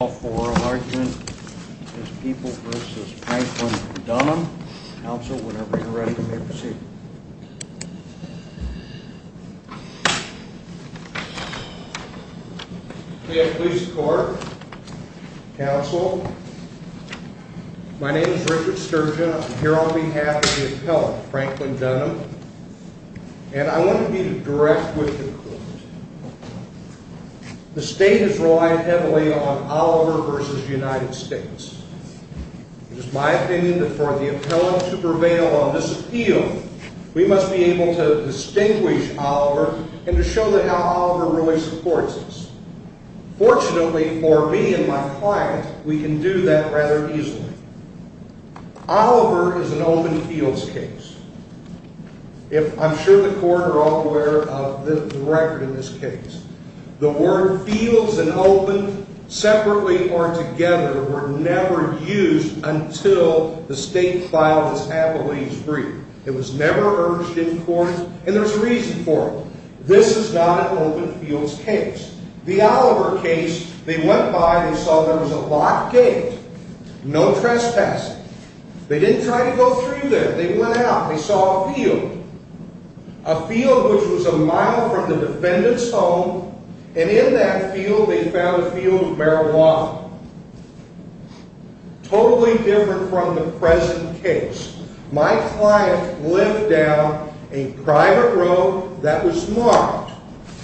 I call for an argument as people v. Franklin v. Dunham. Counsel, whenever you're ready, you may proceed. We have police court, counsel. My name is Richard Sturgeon. I'm here on behalf of the appellant, Franklin Dunham. And I want to be direct with the court. The state has relied heavily on Oliver v. United States. It is my opinion that for the appellant to prevail on this appeal, we must be able to distinguish Oliver and to show them how Oliver really supports us. Fortunately for me and my client, we can do that rather easily. Oliver is an open fields case. I'm sure the court are all aware of the record in this case. The word fields and open separately or together were never used until the state filed this appellate's brief. It was never urged in court, and there's reason for it. This is not an open fields case. The Oliver case, they went by, they saw there was a locked gate. No trespassing. They didn't try to go through there. They went out. They saw a field. A field which was a mile from the defendant's home. And in that field, they found a field of marijuana. Totally different from the present case. My client lived down a private road that was marked,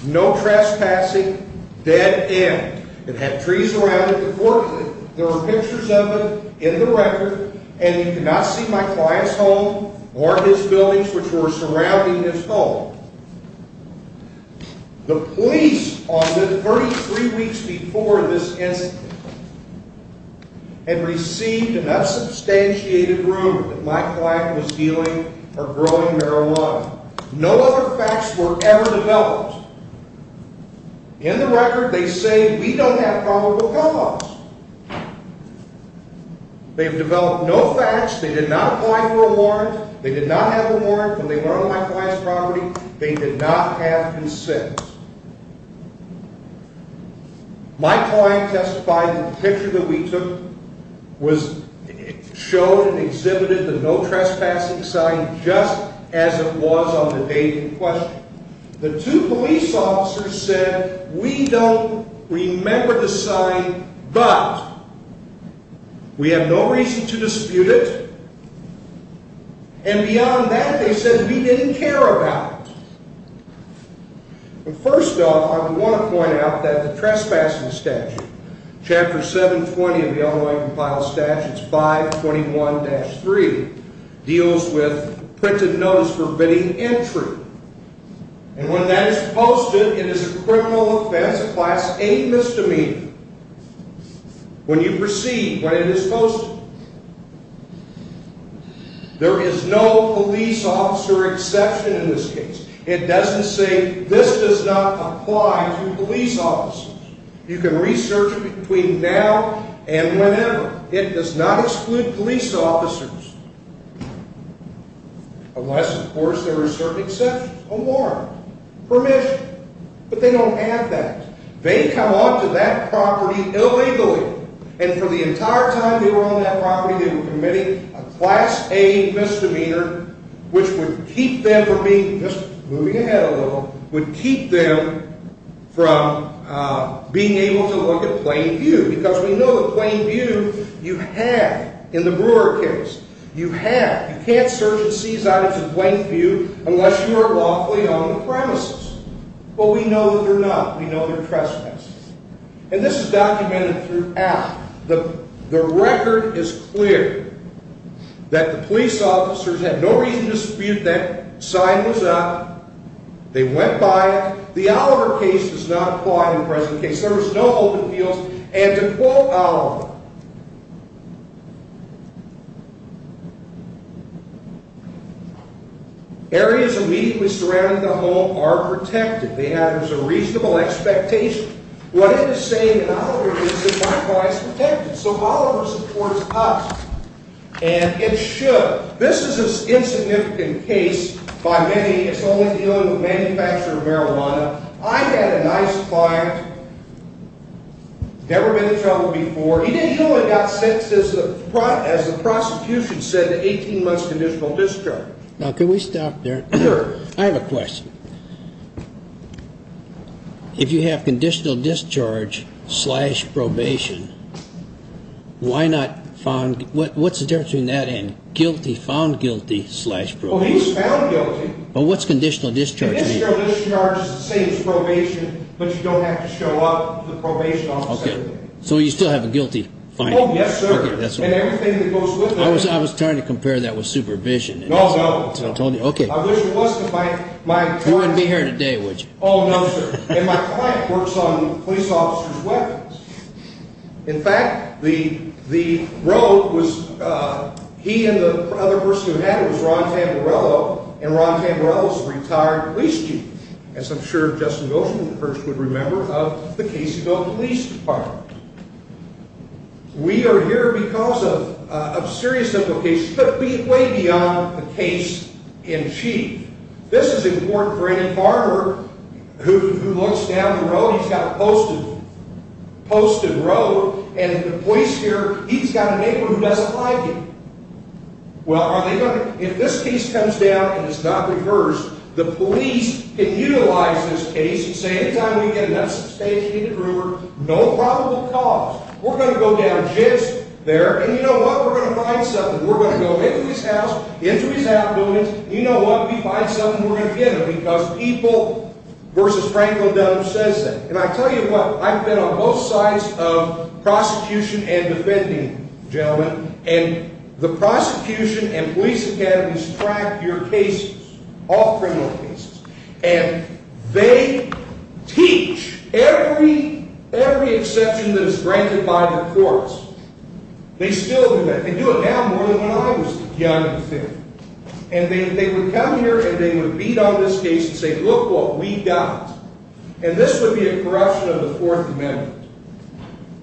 no trespassing, dead end. It had trees around it. Unfortunately, there were pictures of it in the record, and you could not see my client's home or his buildings which were surrounding his home. The police on the 33 weeks before this incident had received enough substantiated rumor that my client was dealing or growing marijuana. No other facts were ever developed. In the record, they say we don't have probable cause. They've developed no facts. They did not apply for a warrant. They did not have a warrant when they were on my client's property. They did not have consent. My client testified that the picture that we took was shown and exhibited, the no trespassing sign, just as it was on the day in question. The two police officers said we don't remember the sign, but we have no reason to dispute it. And beyond that, they said we didn't care about it. First off, I want to point out that the trespassing statute, Chapter 720 of the Illinois Compiled Statutes, 521-3, deals with printed notice forbidding entry. And when that is posted, it is a criminal offense. It applies to any misdemeanor. When you proceed, when it is posted, there is no police officer exception in this case. It doesn't say this does not apply to police officers. You can research it between now and whenever. It does not exclude police officers. Unless, of course, there are certain exceptions. A warrant. Permission. But they don't have that. They come onto that property illegally. And for the entire time they were on that property, they were committing a Class A misdemeanor, which would keep them from being, just moving ahead a little, would keep them from being able to look at plain view. Because we know that plain view you have in the Brewer case. You have. You can't search and seize items in plain view unless you are lawfully on the premises. But we know that they're not. We know they're trespassers. And this is documented throughout. The record is clear that the police officers had no reason to dispute that. The sign was up. They went by it. The Oliver case does not apply in the present case. There was no open fields. And to quote Oliver, areas immediately surrounding the home are protected. There's a reasonable expectation. What it is saying in Oliver is that my client's protected. So Oliver supports us. And it should. But this is an insignificant case by many. It's only dealing with manufacturer of marijuana. I had a nice client, never been in trouble before. He didn't go and got sentenced, as the prosecution said, to 18 months conditional discharge. Now, can we stop there? Sure. I have a question. If you have conditional discharge slash probation, why not find what's the difference between that and guilty found guilty slash probation? But what's conditional discharge? Same as probation. But you don't have to show up the probation officer. So you still have a guilty fine. Yes, sir. That's what I was. I was trying to compare that with supervision. No, no. I told you. Okay. I wish it wasn't. My mind wouldn't be here today. Would you? Oh, no, sir. And my client works on police officers' weapons. In fact, the road was he and the other person who had it was Ron Tamberello, and Ron Tamberello is a retired police chief, as I'm sure Justin Wilson, the perch, would remember, of the Caseyville Police Department. We are here because of serious implications, but way beyond the case in chief. This is important for any farmer who looks down the road. He's got a posted road, and the police here, he's got a neighbor who doesn't like him. Well, if this case comes down and it's not reversed, the police can utilize this case and say, anytime we get enough substantiated rumor, no probable cause, we're going to go down jibs there, and you know what? We're going to find something. We're going to go into his house, into his affluence, and you know what? We find something. We're going to get him because people versus Franco Dunham says that. And I tell you what. I've been on both sides of prosecution and defending, gentlemen, and the prosecution and police academies track your cases, all criminal cases, and they teach every exception that is granted by the courts. They still do that. They do it now more than when I was young in theory. And they would come here and they would beat on this case and say, look what we've got. And this would be a corruption of the Fourth Amendment,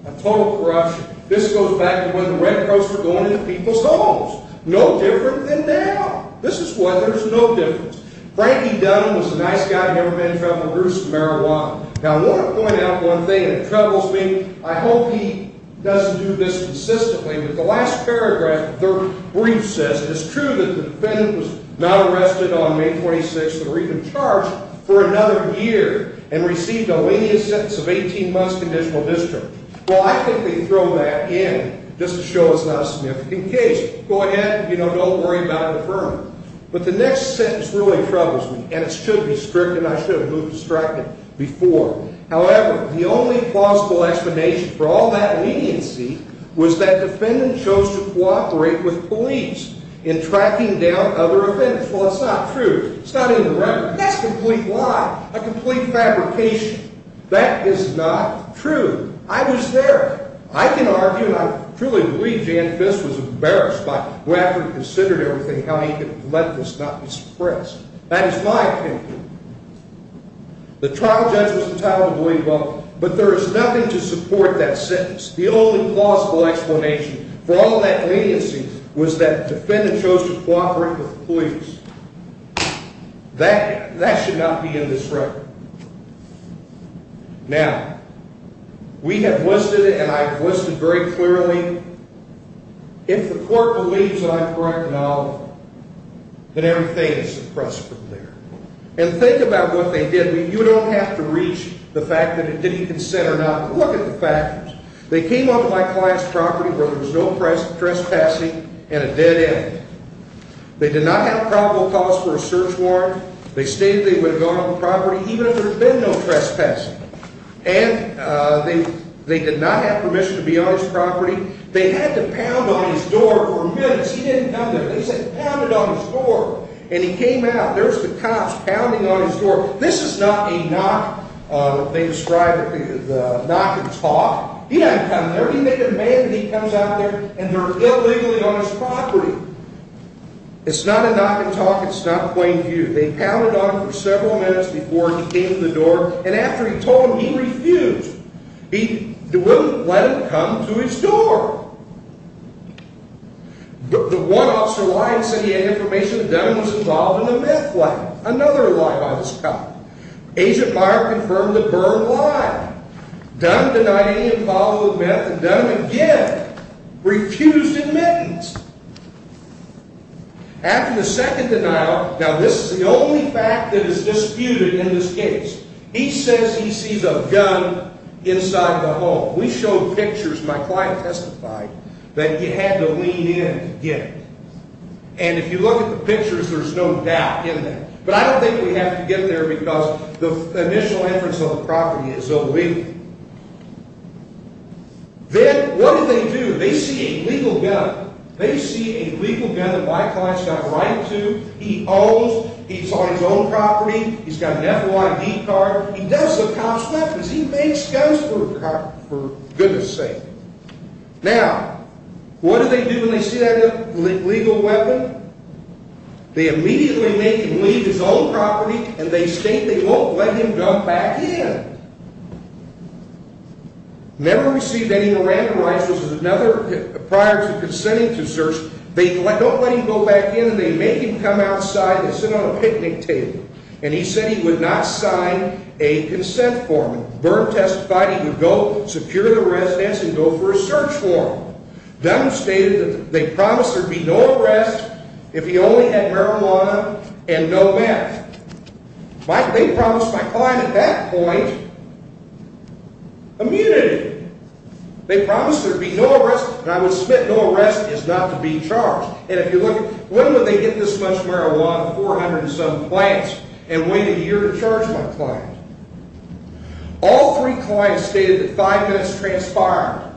a total corruption. This goes back to when the Red Cross were going into people's homes, no different than now. This is what there's no difference. Frankie Dunham was a nice guy who had never been in trouble with gruesome marijuana. Now, I want to point out one thing, and it troubles me. I hope he doesn't do this consistently, but the last paragraph of the third brief says, it's true that the defendant was not arrested on May 26th or even charged for another year and received a lenient sentence of 18 months conditional district. Well, I think they throw that in just to show it's not a significant case. Go ahead. Don't worry about it. Affirm it. But the next sentence really troubles me, and it should be strict, and I should have moved distracted before. However, the only plausible explanation for all that leniency was that defendant chose to cooperate with police in tracking down other offenders. Well, it's not true. It's not in the record. That's a complete lie, a complete fabrication. That is not true. I was there. I can argue, and I truly believe Jan Fist was embarrassed after he considered everything, how he could let this not be suppressed. That is my opinion. The trial judge was entitled to believe both, but there is nothing to support that sentence. The only plausible explanation for all that leniency was that defendant chose to cooperate with police. That should not be in this record. Now, we have listed it, and I've listed very clearly. If the court believes that I'm correct in all of them, then everything is suppressed from there. And think about what they did. You don't have to reach the fact that it didn't consent or not. Look at the factors. They came onto my client's property where there was no trespassing and a dead end. They did not have probable cause for a search warrant. They stated they would have gone on the property even if there had been no trespassing. And they did not have permission to be on his property. They had to pound on his door for minutes. He didn't come there. They said pound it on his door, and he came out. There's the cops pounding on his door. This is not a knock that they describe as a knock and talk. He didn't come there. He made a demand that he comes out there, and they're illegally on his property. It's not a knock and talk. It's not plain view. They pounded on him for several minutes before he came to the door, and after he told them he refused. He wouldn't let them come to his door. The one officer lied and said he had information that Dunham was involved in a meth lab. Another lie by this cop. Agent Meyer confirmed the burned lie. Dunham denied any involvement with meth, and Dunham, again, refused admittance. After the second denial, now this is the only fact that is disputed in this case. He says he sees a gun inside the home. We showed pictures. My client testified that you had to lean in to get it. And if you look at the pictures, there's no doubt in that. But I don't think we have to get in there because the initial entrance of the property is illegal. Then what do they do? They see a legal gun. They see a legal gun that my client's got a right to. He owns. He's on his own property. He's got an FYI card. He does the cop's business. He makes guns for goodness sake. Now, what do they do when they see that legal weapon? They immediately make him leave his own property, and they state they won't let him come back in. Never received any Miranda licenses. Prior to consenting to search, they don't let him go back in, and they make him come outside and sit on a picnic table. And he said he would not sign a consent form. Byrne testified he would go secure the residence and go for a search warrant. Dunham stated that they promised there'd be no arrest if he only had marijuana and no meth. They promised my client at that point immunity. They promised there'd be no arrest, and I would submit no arrest is not to be charged. When would they get this much marijuana from 400 and some clients and wait a year to charge my client? All three clients stated that five minutes transpired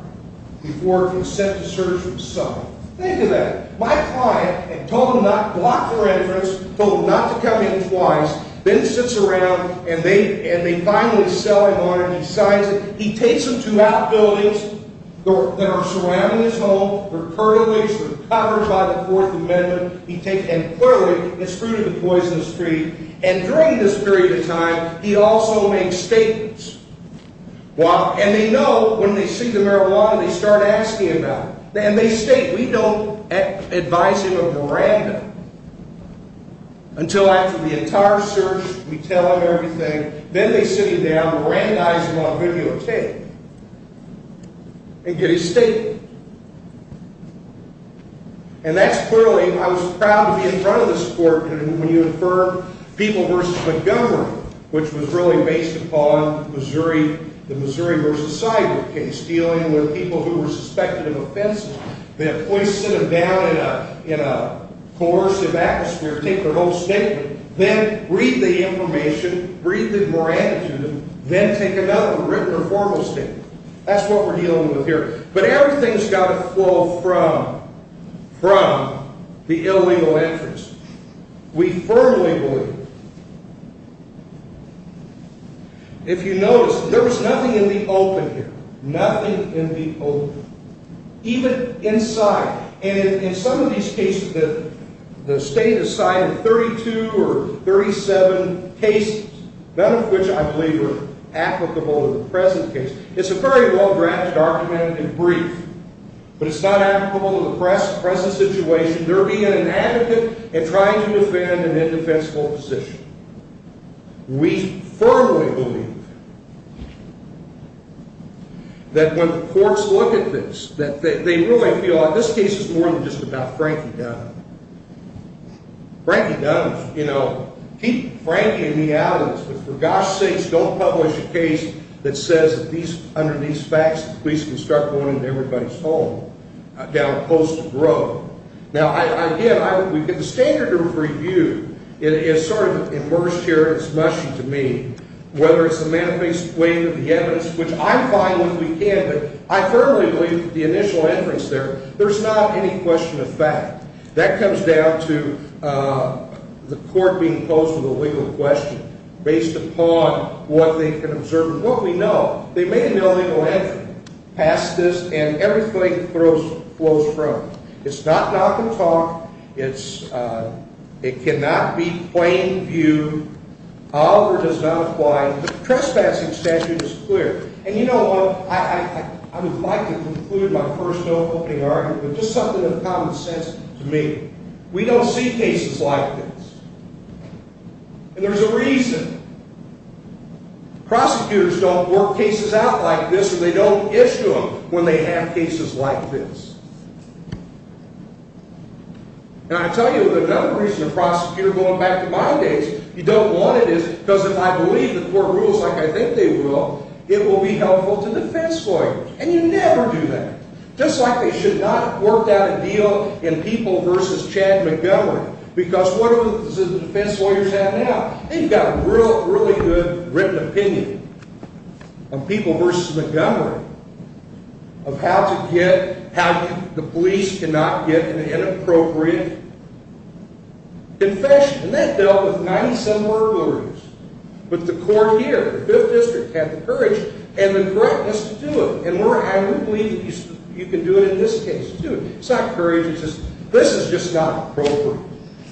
before consent to search was signed. Think of that. My client had told them not to block their entrance, told them not to come in twice, then sits around, and they finally sell him on it. He signs it. He takes them to outbuildings that are surrounding his home. They're curtailed. They're covered by the Fourth Amendment. He takes them quickly and screwed in a poisonous tree. And during this period of time, he also makes statements. And they know when they see the marijuana, they start asking about it. And they state, we don't advise him of Miranda until after the entire search. We tell him everything. Then they sit him down, Mirandize him on videotape and get his statement. And that's clearly, I was proud to be in front of this court when you affirmed People v. Montgomery, which was really based upon the Missouri v. Seiberg case, dealing with people who were suspected of offense. They have to sit him down in a coercive atmosphere, take their whole statement, then read the information, read the Miranda to them, then take another written or formal statement. That's what we're dealing with here. But everything's got to flow from the illegal entrance. We firmly believe it. If you notice, there was nothing in the open here, nothing in the open, even inside. And in some of these cases, the state has cited 32 or 37 cases, none of which I believe are applicable to the present case. It's a very well-drafted argument and brief, but it's not applicable to the present situation. They're being inadequate and trying to defend an indefensible position. We firmly believe that when the courts look at this, that they really feel like this case is more than just about Frankie Dunn. Frankie Dunn, you know, keep Frankie in the alleys, but for gosh sakes, don't publish a case that says that under these facts, the police can start going into everybody's home down a coastal road. Now, again, we've got the standard of review. It is sort of immersed here, and it's mushy to me, whether it's the manifest wave of the evidence, which I find when we can, but I firmly believe that the initial entrance there, there's not any question of fact. That comes down to the court being posed with a legal question based upon what they can observe and what we know. They make an illegal entry past this, and everything flows from it. It's not knock and talk. It cannot be plain viewed. Oliver does not apply. The trespassing statute is clear. And, you know, I would like to conclude my first no-opening argument with just something that's common sense to me. We don't see cases like this. And there's a reason. Prosecutors don't work cases out like this, or they don't issue them when they have cases like this. And I tell you, another reason a prosecutor, going back to my days, you don't want it is because if I believe the court rules like I think they will, it will be helpful to defense lawyers, and you never do that. Just like they should not have worked out a deal in People v. Chad Montgomery, because what do the defense lawyers have now? They've got a really good written opinion on People v. Montgomery of how the police cannot get an inappropriate confession. And that dealt with 97 burglaries. But the court here, the Fifth District, had the courage and the correctness to do it. And I would believe that you can do it in this case, too. It's not courage. It's just this is just not appropriate.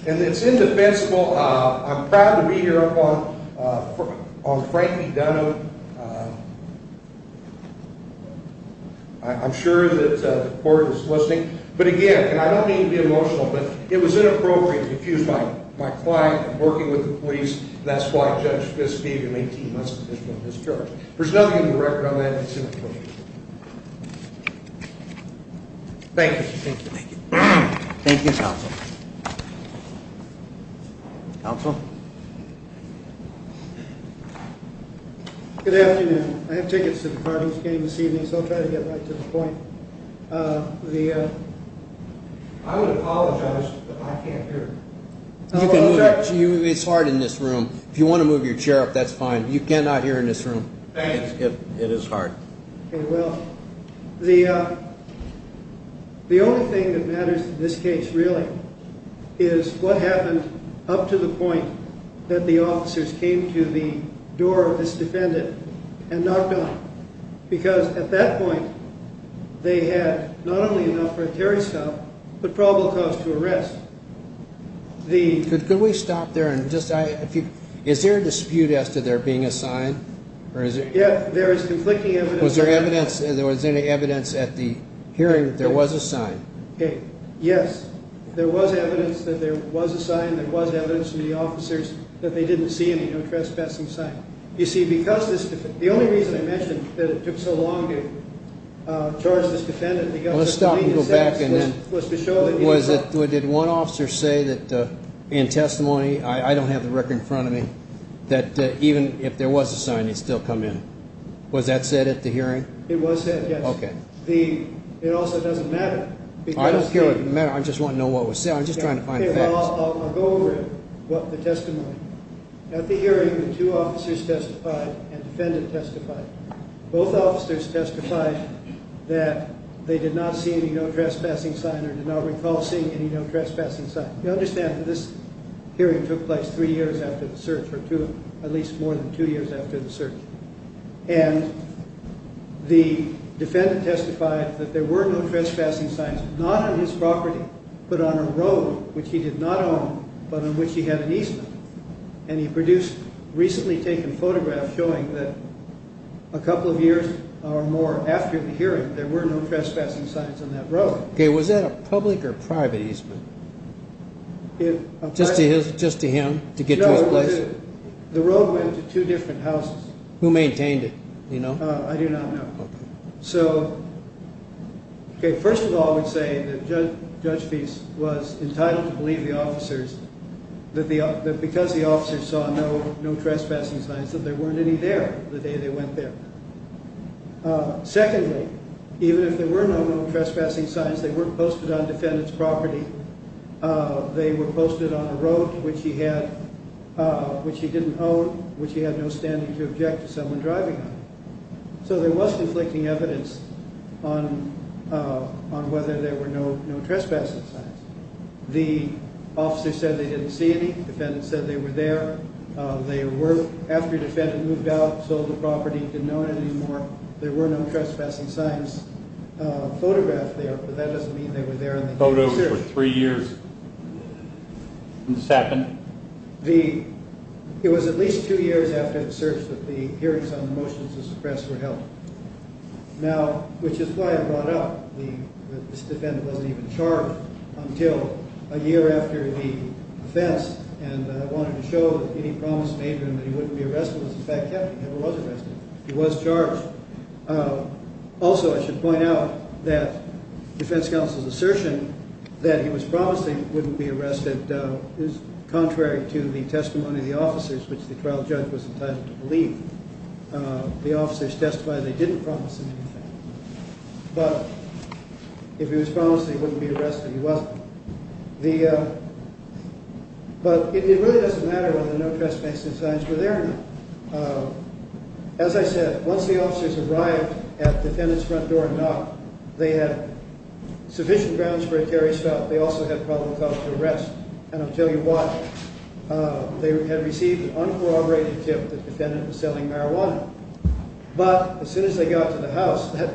And it's indefensible. I'm proud to be here on Frankie Dunham. I'm sure that the court is listening. But, again, and I don't mean to be emotional, but it was inappropriate to confuse my client and working with the police. That's why Judge Fisk gave him 18 months' petition on this charge. There's nothing in the record on that. Thank you. Thank you. Thank you, Counsel. Counsel? Good afternoon. I have tickets to the Cardinals game this evening, so I'll try to get right to the point. I would apologize, but I can't hear. It's hard in this room. If you want to move your chair up, that's fine. You cannot hear in this room. Thank you. It is hard. Okay, well, the only thing that matters in this case, really, is what happened up to the point that the officers came to the door of this defendant and knocked on it. Because at that point, they had not only enough for a terror stop, but probable cause to arrest. Could we stop there? Is there a dispute as to there being a sign? Yes, there is conflicting evidence. Was there any evidence at the hearing that there was a sign? Yes, there was evidence that there was a sign. There was evidence from the officers that they didn't see any trespassing sign. You see, the only reason I mentioned that it took so long to charge this defendant Let's stop and go back. Did one officer say that in testimony, I don't have the record in front of me, that even if there was a sign, it would still come in? Was that said at the hearing? It was said, yes. It also doesn't matter. I don't care what it matters. I just want to know what was said. I'm just trying to find facts. I'll go over it, the testimony. At the hearing, the two officers testified and the defendant testified. Both officers testified that they did not see any no trespassing sign or did not recall seeing any no trespassing sign. You understand that this hearing took place three years after the search, or at least more than two years after the search. And the defendant testified that there were no trespassing signs, not on his property, but on a road, which he did not own, but on which he had an easement. And he produced a recently taken photograph showing that a couple of years or more after the hearing, there were no trespassing signs on that road. Was that a public or private easement? Just to him, to get to his place? No, the road went to two different houses. Who maintained it? I do not know. First of all, I would say that Judge Feist was entitled to believe the officers that because the officers saw no trespassing signs, that there weren't any there the day they went there. Secondly, even if there were no no trespassing signs, they weren't posted on the defendant's property. They were posted on a road, which he didn't own, which he had no standing to object to someone driving on it. So there was conflicting evidence on whether there were no trespassing signs. The officer said they didn't see any. The defendant said they were there. They were, after the defendant moved out, sold the property, didn't own it anymore, there were no trespassing signs photographed there, but that doesn't mean they were there in the search. Photos were three years since this happened? It was at least two years after the search that the hearings on the motions to suppress were held, which is why I brought up that this defendant wasn't even charged until a year after the offense, and I wanted to show that any promise made to him that he wouldn't be arrested was in fact kept. He never was arrested. He was charged. Also, I should point out that the defense counsel's assertion that he was promising wouldn't be arrested is contrary to the testimony of the officers, which the trial judge was entitled to believe. The officers testified they didn't promise him anything. But if he was promising he wouldn't be arrested, he wasn't. But it really doesn't matter whether no trespassing signs were there or not. As I said, once the officers arrived at the defendant's front door and knocked, they had sufficient grounds for a terrorist threat. They also had probable cause to arrest, and I'll tell you why. They had received an uncorroborated tip that the defendant was selling marijuana. But as soon as they got to the house, that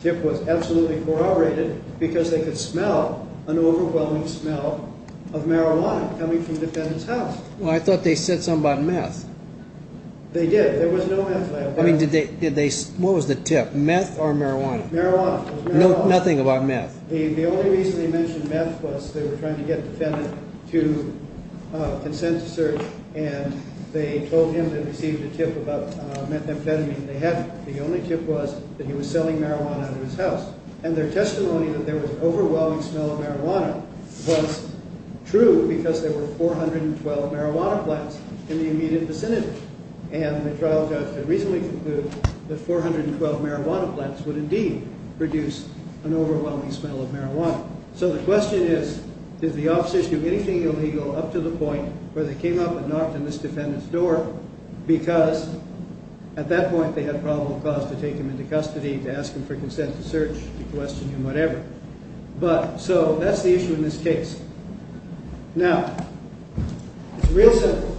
tip was absolutely corroborated because they could smell an overwhelming smell of marijuana coming from the defendant's house. Well, I thought they said something about meth. They did. There was no meth lab there. What was the tip? Meth or marijuana? Marijuana. Nothing about meth? The only reason they mentioned meth was they were trying to get the defendant to consent to search, and they told him they received a tip about methamphetamine. They hadn't. The only tip was that he was selling marijuana at his house. And their testimony that there was an overwhelming smell of marijuana was true because there were 412 marijuana plants in the immediate vicinity. And the trial judge had recently concluded that 412 marijuana plants would indeed produce an overwhelming smell of marijuana. So the question is, did the officers do anything illegal up to the point where they came up and knocked on this defendant's door because at that point they had probable cause to take him into custody, to ask him for consent to search, to question him, whatever. So that's the issue in this case. Now, it's real simple.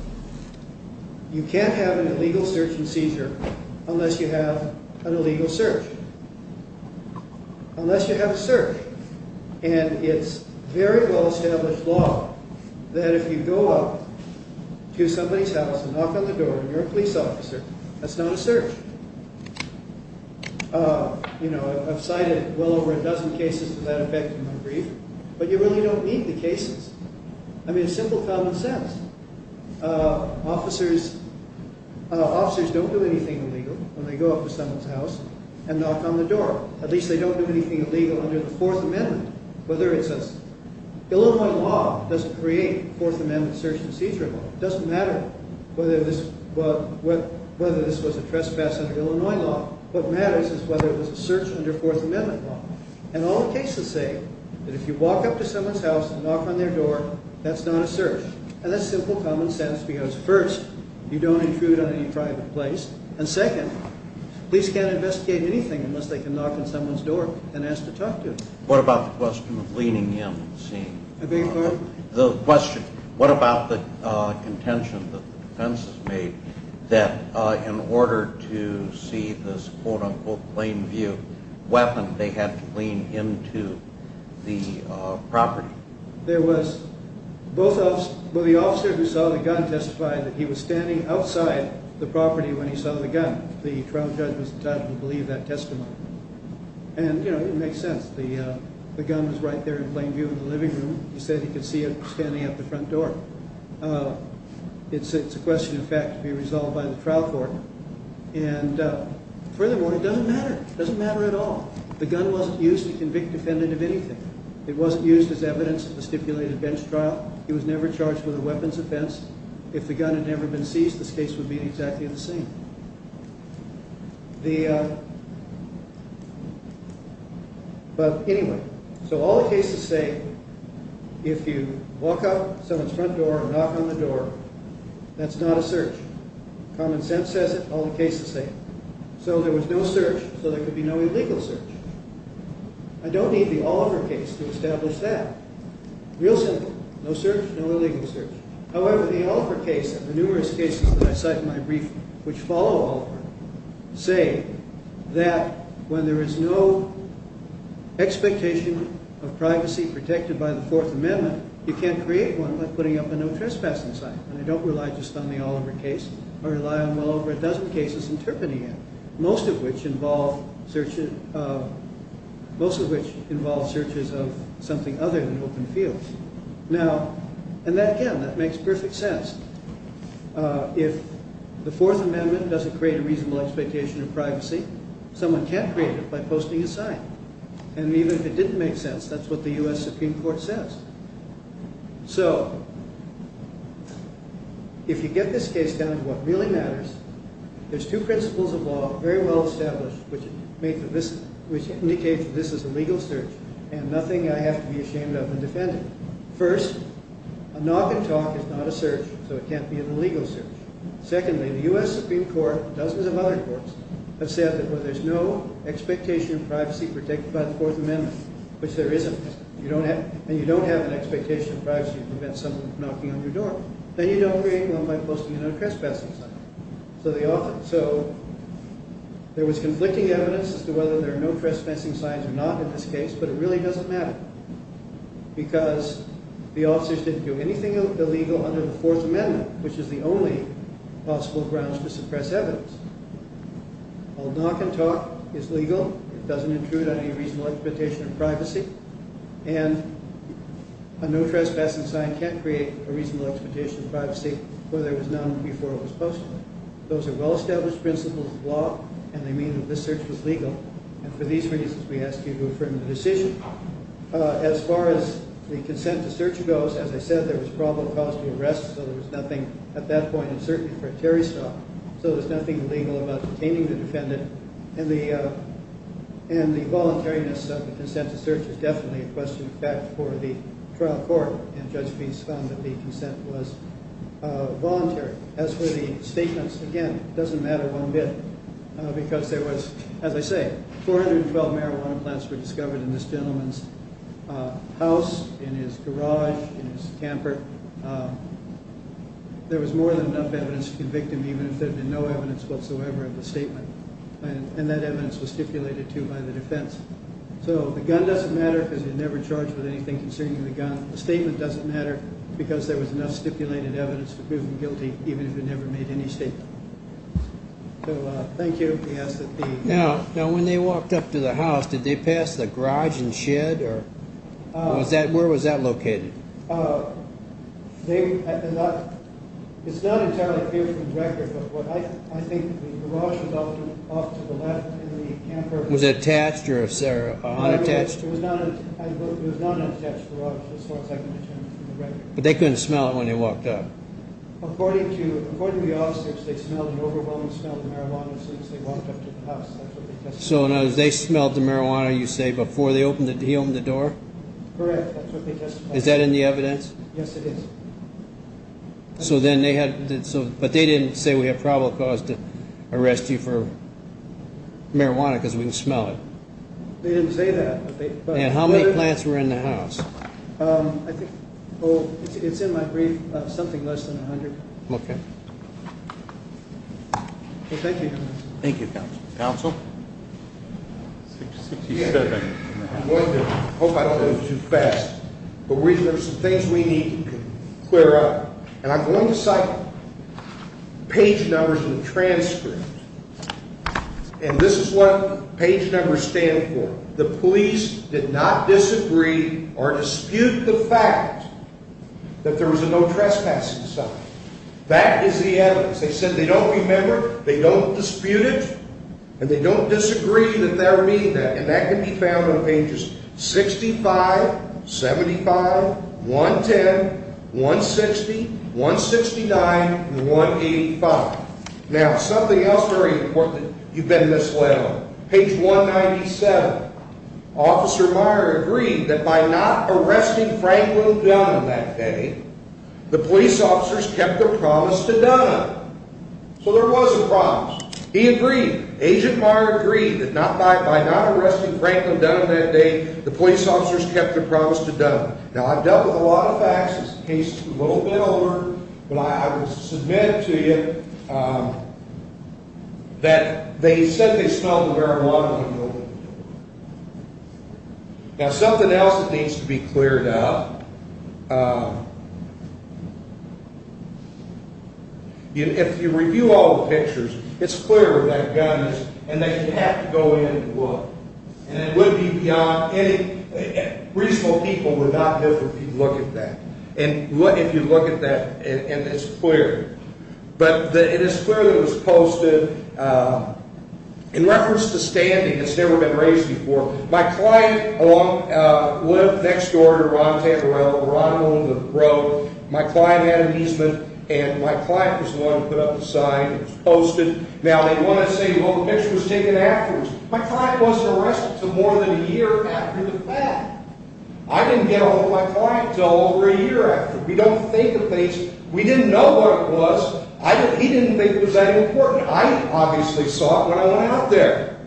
You can't have an illegal search and seizure unless you have an illegal search. Unless you have a search. And it's very well-established law that if you go up to somebody's house and knock on the door and you're a police officer, that's not a search. I've cited well over a dozen cases of that effect in my brief, but you really don't need the cases. I mean, it's simple common sense. Officers don't do anything illegal when they go up to someone's house and knock on the door. At least they don't do anything illegal under the Fourth Amendment. Illinois law doesn't create Fourth Amendment search and seizure law. It doesn't matter whether this was a trespass under Illinois law. What matters is whether it was a search under Fourth Amendment law. And all the cases say that if you walk up to someone's house and knock on their door, that's not a search. And that's simple common sense because, first, you don't intrude on any private place, and, second, police can't investigate anything unless they can knock on someone's door and ask to talk to them. What about the question of leaning in and seeing? I beg your pardon? The question, what about the contention that the defense has made that in order to see this quote-unquote plain view weapon, they had to lean into the property? There was. The officer who saw the gun testified that he was standing outside the property when he saw the gun. The trial judge was entitled to believe that testimony. And, you know, it makes sense. The gun was right there in plain view in the living room. He said he could see it standing at the front door. It's a question of fact to be resolved by the trial court. And, furthermore, it doesn't matter. It doesn't matter at all. The gun wasn't used to convict a defendant of anything. It wasn't used as evidence at the stipulated bench trial. He was never charged with a weapons offense. If the gun had never been seized, this case would be exactly the same. But, anyway, so all the cases say if you walk out someone's front door and knock on the door, that's not a search. Common sense says it. All the cases say it. So there was no search, so there could be no illegal search. I don't need the Oliver case to establish that. Real simple. No search, no illegal search. However, the Oliver case and the numerous cases that I cite in my brief, which follow Oliver, say that when there is no expectation of privacy protected by the Fourth Amendment, you can't create one by putting up a no trespassing sign. And I don't rely just on the Oliver case. I rely on well over a dozen cases interpreting it, most of which involve searches of something other than open fields. And, again, that makes perfect sense. If the Fourth Amendment doesn't create a reasonable expectation of privacy, someone can't create it by posting a sign. And even if it didn't make sense, that's what the U.S. Supreme Court says. So if you get this case down to what really matters, there's two principles of law, very well established, which indicate that this is a legal search and nothing I have to be ashamed of in defending it. First, a knock and talk is not a search, so it can't be an illegal search. Secondly, the U.S. Supreme Court and dozens of other courts have said that when there's no expectation of privacy protected by the Fourth Amendment, which there isn't, and you don't have an expectation of privacy to prevent someone from knocking on your door, then you don't create one by posting a no trespassing sign. So there was conflicting evidence as to whether there are no trespassing signs or not in this case, but it really doesn't matter because the officers didn't do anything illegal under the Fourth Amendment, which is the only possible grounds to suppress evidence. A knock and talk is legal. It doesn't intrude on any reasonable expectation of privacy. And a no trespassing sign can't create a reasonable expectation of privacy where there was none before it was posted. Those are well-established principles of law, and they mean that this search was legal. And for these reasons, we ask you to affirm the decision. As far as the consent to search goes, as I said, there was probable cause to arrest, so there was nothing at that point, and certainly for a Terry stop, so there's nothing illegal about detaining the defendant. And the voluntariness of the consent to search is definitely a question of fact for the trial court, and Judge Feist found that the consent was voluntary. As for the statements, again, it doesn't matter one bit because there was, as I say, 412 marijuana plants were discovered in this gentleman's house, in his garage, in his camper. There was more than enough evidence to convict him even if there had been no evidence whatsoever of the statement, and that evidence was stipulated, too, by the defense. So the gun doesn't matter because you're never charged with anything concerning the gun. The statement doesn't matter because there was enough stipulated evidence to prove him guilty even if he never made any statement. Thank you. Now, when they walked up to the house, did they pass the garage and shed? Where was that located? It's not entirely clear from the record, but I think the garage was off to the left in the camper. Was it attached or unattached? It was not an attached garage as far as I can determine from the record. But they couldn't smell it when they walked up? According to the officers, they smelled and overwhelmingly smelled the marijuana since they walked up to the house. So they smelled the marijuana, you say, before he opened the door? Correct. Is that in the evidence? Yes, it is. But they didn't say, we have probable cause to arrest you for marijuana because we can smell it. They didn't say that. And how many plants were in the house? It's in my brief, something less than 100. Okay. Well, thank you. Thank you, Counsel. Counsel? 67. I hope I didn't go too fast. But there are some things we need to clear up. And I'm going to cite page numbers in the transcript. And this is what page numbers stand for. The police did not disagree or dispute the fact that there was a no trespassing sign. That is the evidence. They said they don't remember, they don't dispute it, and they don't disagree that there may be that. And that can be found on pages 65, 75, 110, 160, 169, and 185. Now, something else very important that you've been misled on. Page 197, Officer Meyer agreed that by not arresting Franklin Dunham that day, the police officers kept their promise to Dunham. So there was a promise. He agreed. Agent Meyer agreed that by not arresting Franklin Dunham that day, the police officers kept their promise to Dunham. Now, I've dealt with a lot of facts. This case is a little bit older. But I would submit to you that they said they smelled the marijuana in the room. Now, something else that needs to be cleared up. If you review all the pictures, it's clear that guns and that you have to go in and look. And it would be beyond any reasonable people would not be able to look at that. And if you look at that, it's clear. But it is clear that it was posted in reference to standing. It's never been raised before. My client lived next door to Ron Tabarella. Ron owned the road. My client had an easement, and my client was the one who put up the sign. It was posted. Now, they want to say, well, the picture was taken afterwards. My client wasn't arrested until more than a year after the fact. I didn't get a hold of my client until over a year after. We don't think of things. We didn't know what it was. He didn't think it was that important. I obviously saw it when I went out there.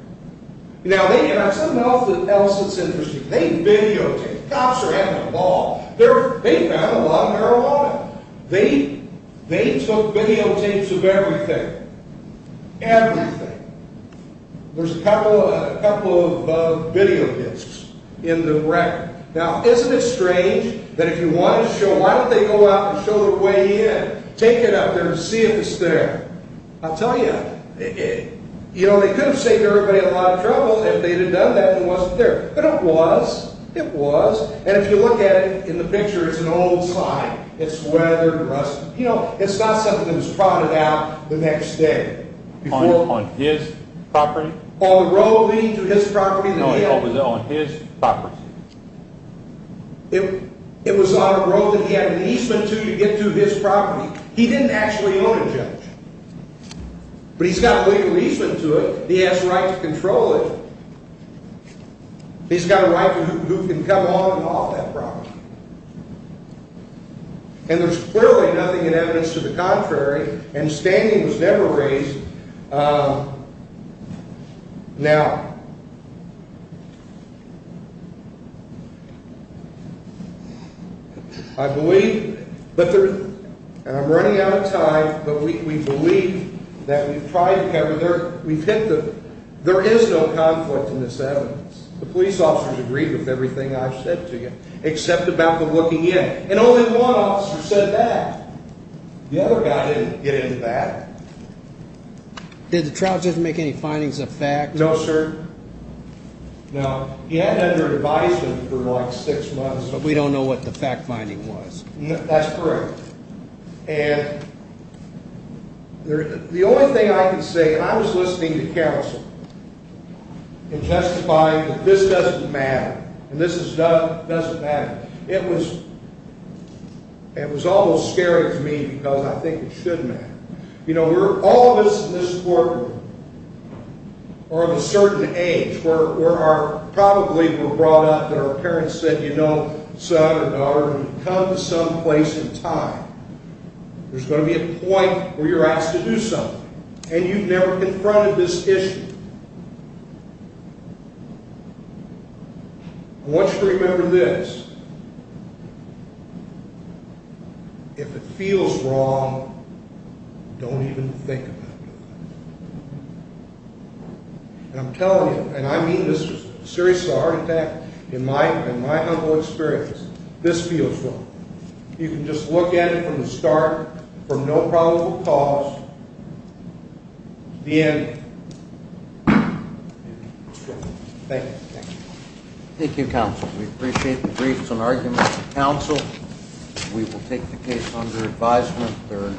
Now, something else that's interesting. They videotaped. Cops are having a ball. They found a lot of marijuana. They took videotapes of everything. Everything. There's a couple of videotapes in the record. Now, isn't it strange that if you want to show, why don't they go out and show the way in, take it up there and see if it's there? I'll tell you, you know, they could have saved everybody a lot of trouble if they had done that and it wasn't there. But it was. It was. And if you look at it, in the picture, it's an old sign. It's weathered, rusted. You know, it's not something that was prodded out the next day. On his property? On the road leading to his property. No, it was on his property. It was on a road that he had an easement to to get to his property. He didn't actually own a judge. But he's got a legal easement to it. He has the right to control it. He's got a right to who can come on and off that property. And there's clearly nothing in evidence to the contrary. And standing was never raised. Now, I believe, and I'm running out of time, but we believe that we've hit the, there is no conflict in this evidence. The police officers agreed with everything I've said to you, except about the looking in. And only one officer said that. The other guy didn't get into that. Did the trial judge make any findings of facts? No, sir. No. He hadn't under advisement for like six months. But we don't know what the fact finding was. That's correct. And the only thing I can say, and I was listening to counsel and testifying that this doesn't matter. And this is done, it doesn't matter. It was almost scary to me because I think it should matter. You know, all of us in this courtroom are of a certain age. We're probably brought up that our parents said, you know, son or daughter, you've come to some place in time. There's going to be a point where you're asked to do something. And you've never confronted this issue. I want you to remember this. If it feels wrong, don't even think about doing it. And I'm telling you, and I mean this seriously, heart attack, in my humble experience, this feels wrong. You can just look at it from the start, from no probable cause, to the end. Thank you. Thank you, counsel. We appreciate the briefs and arguments of counsel. We will take the case under advisement.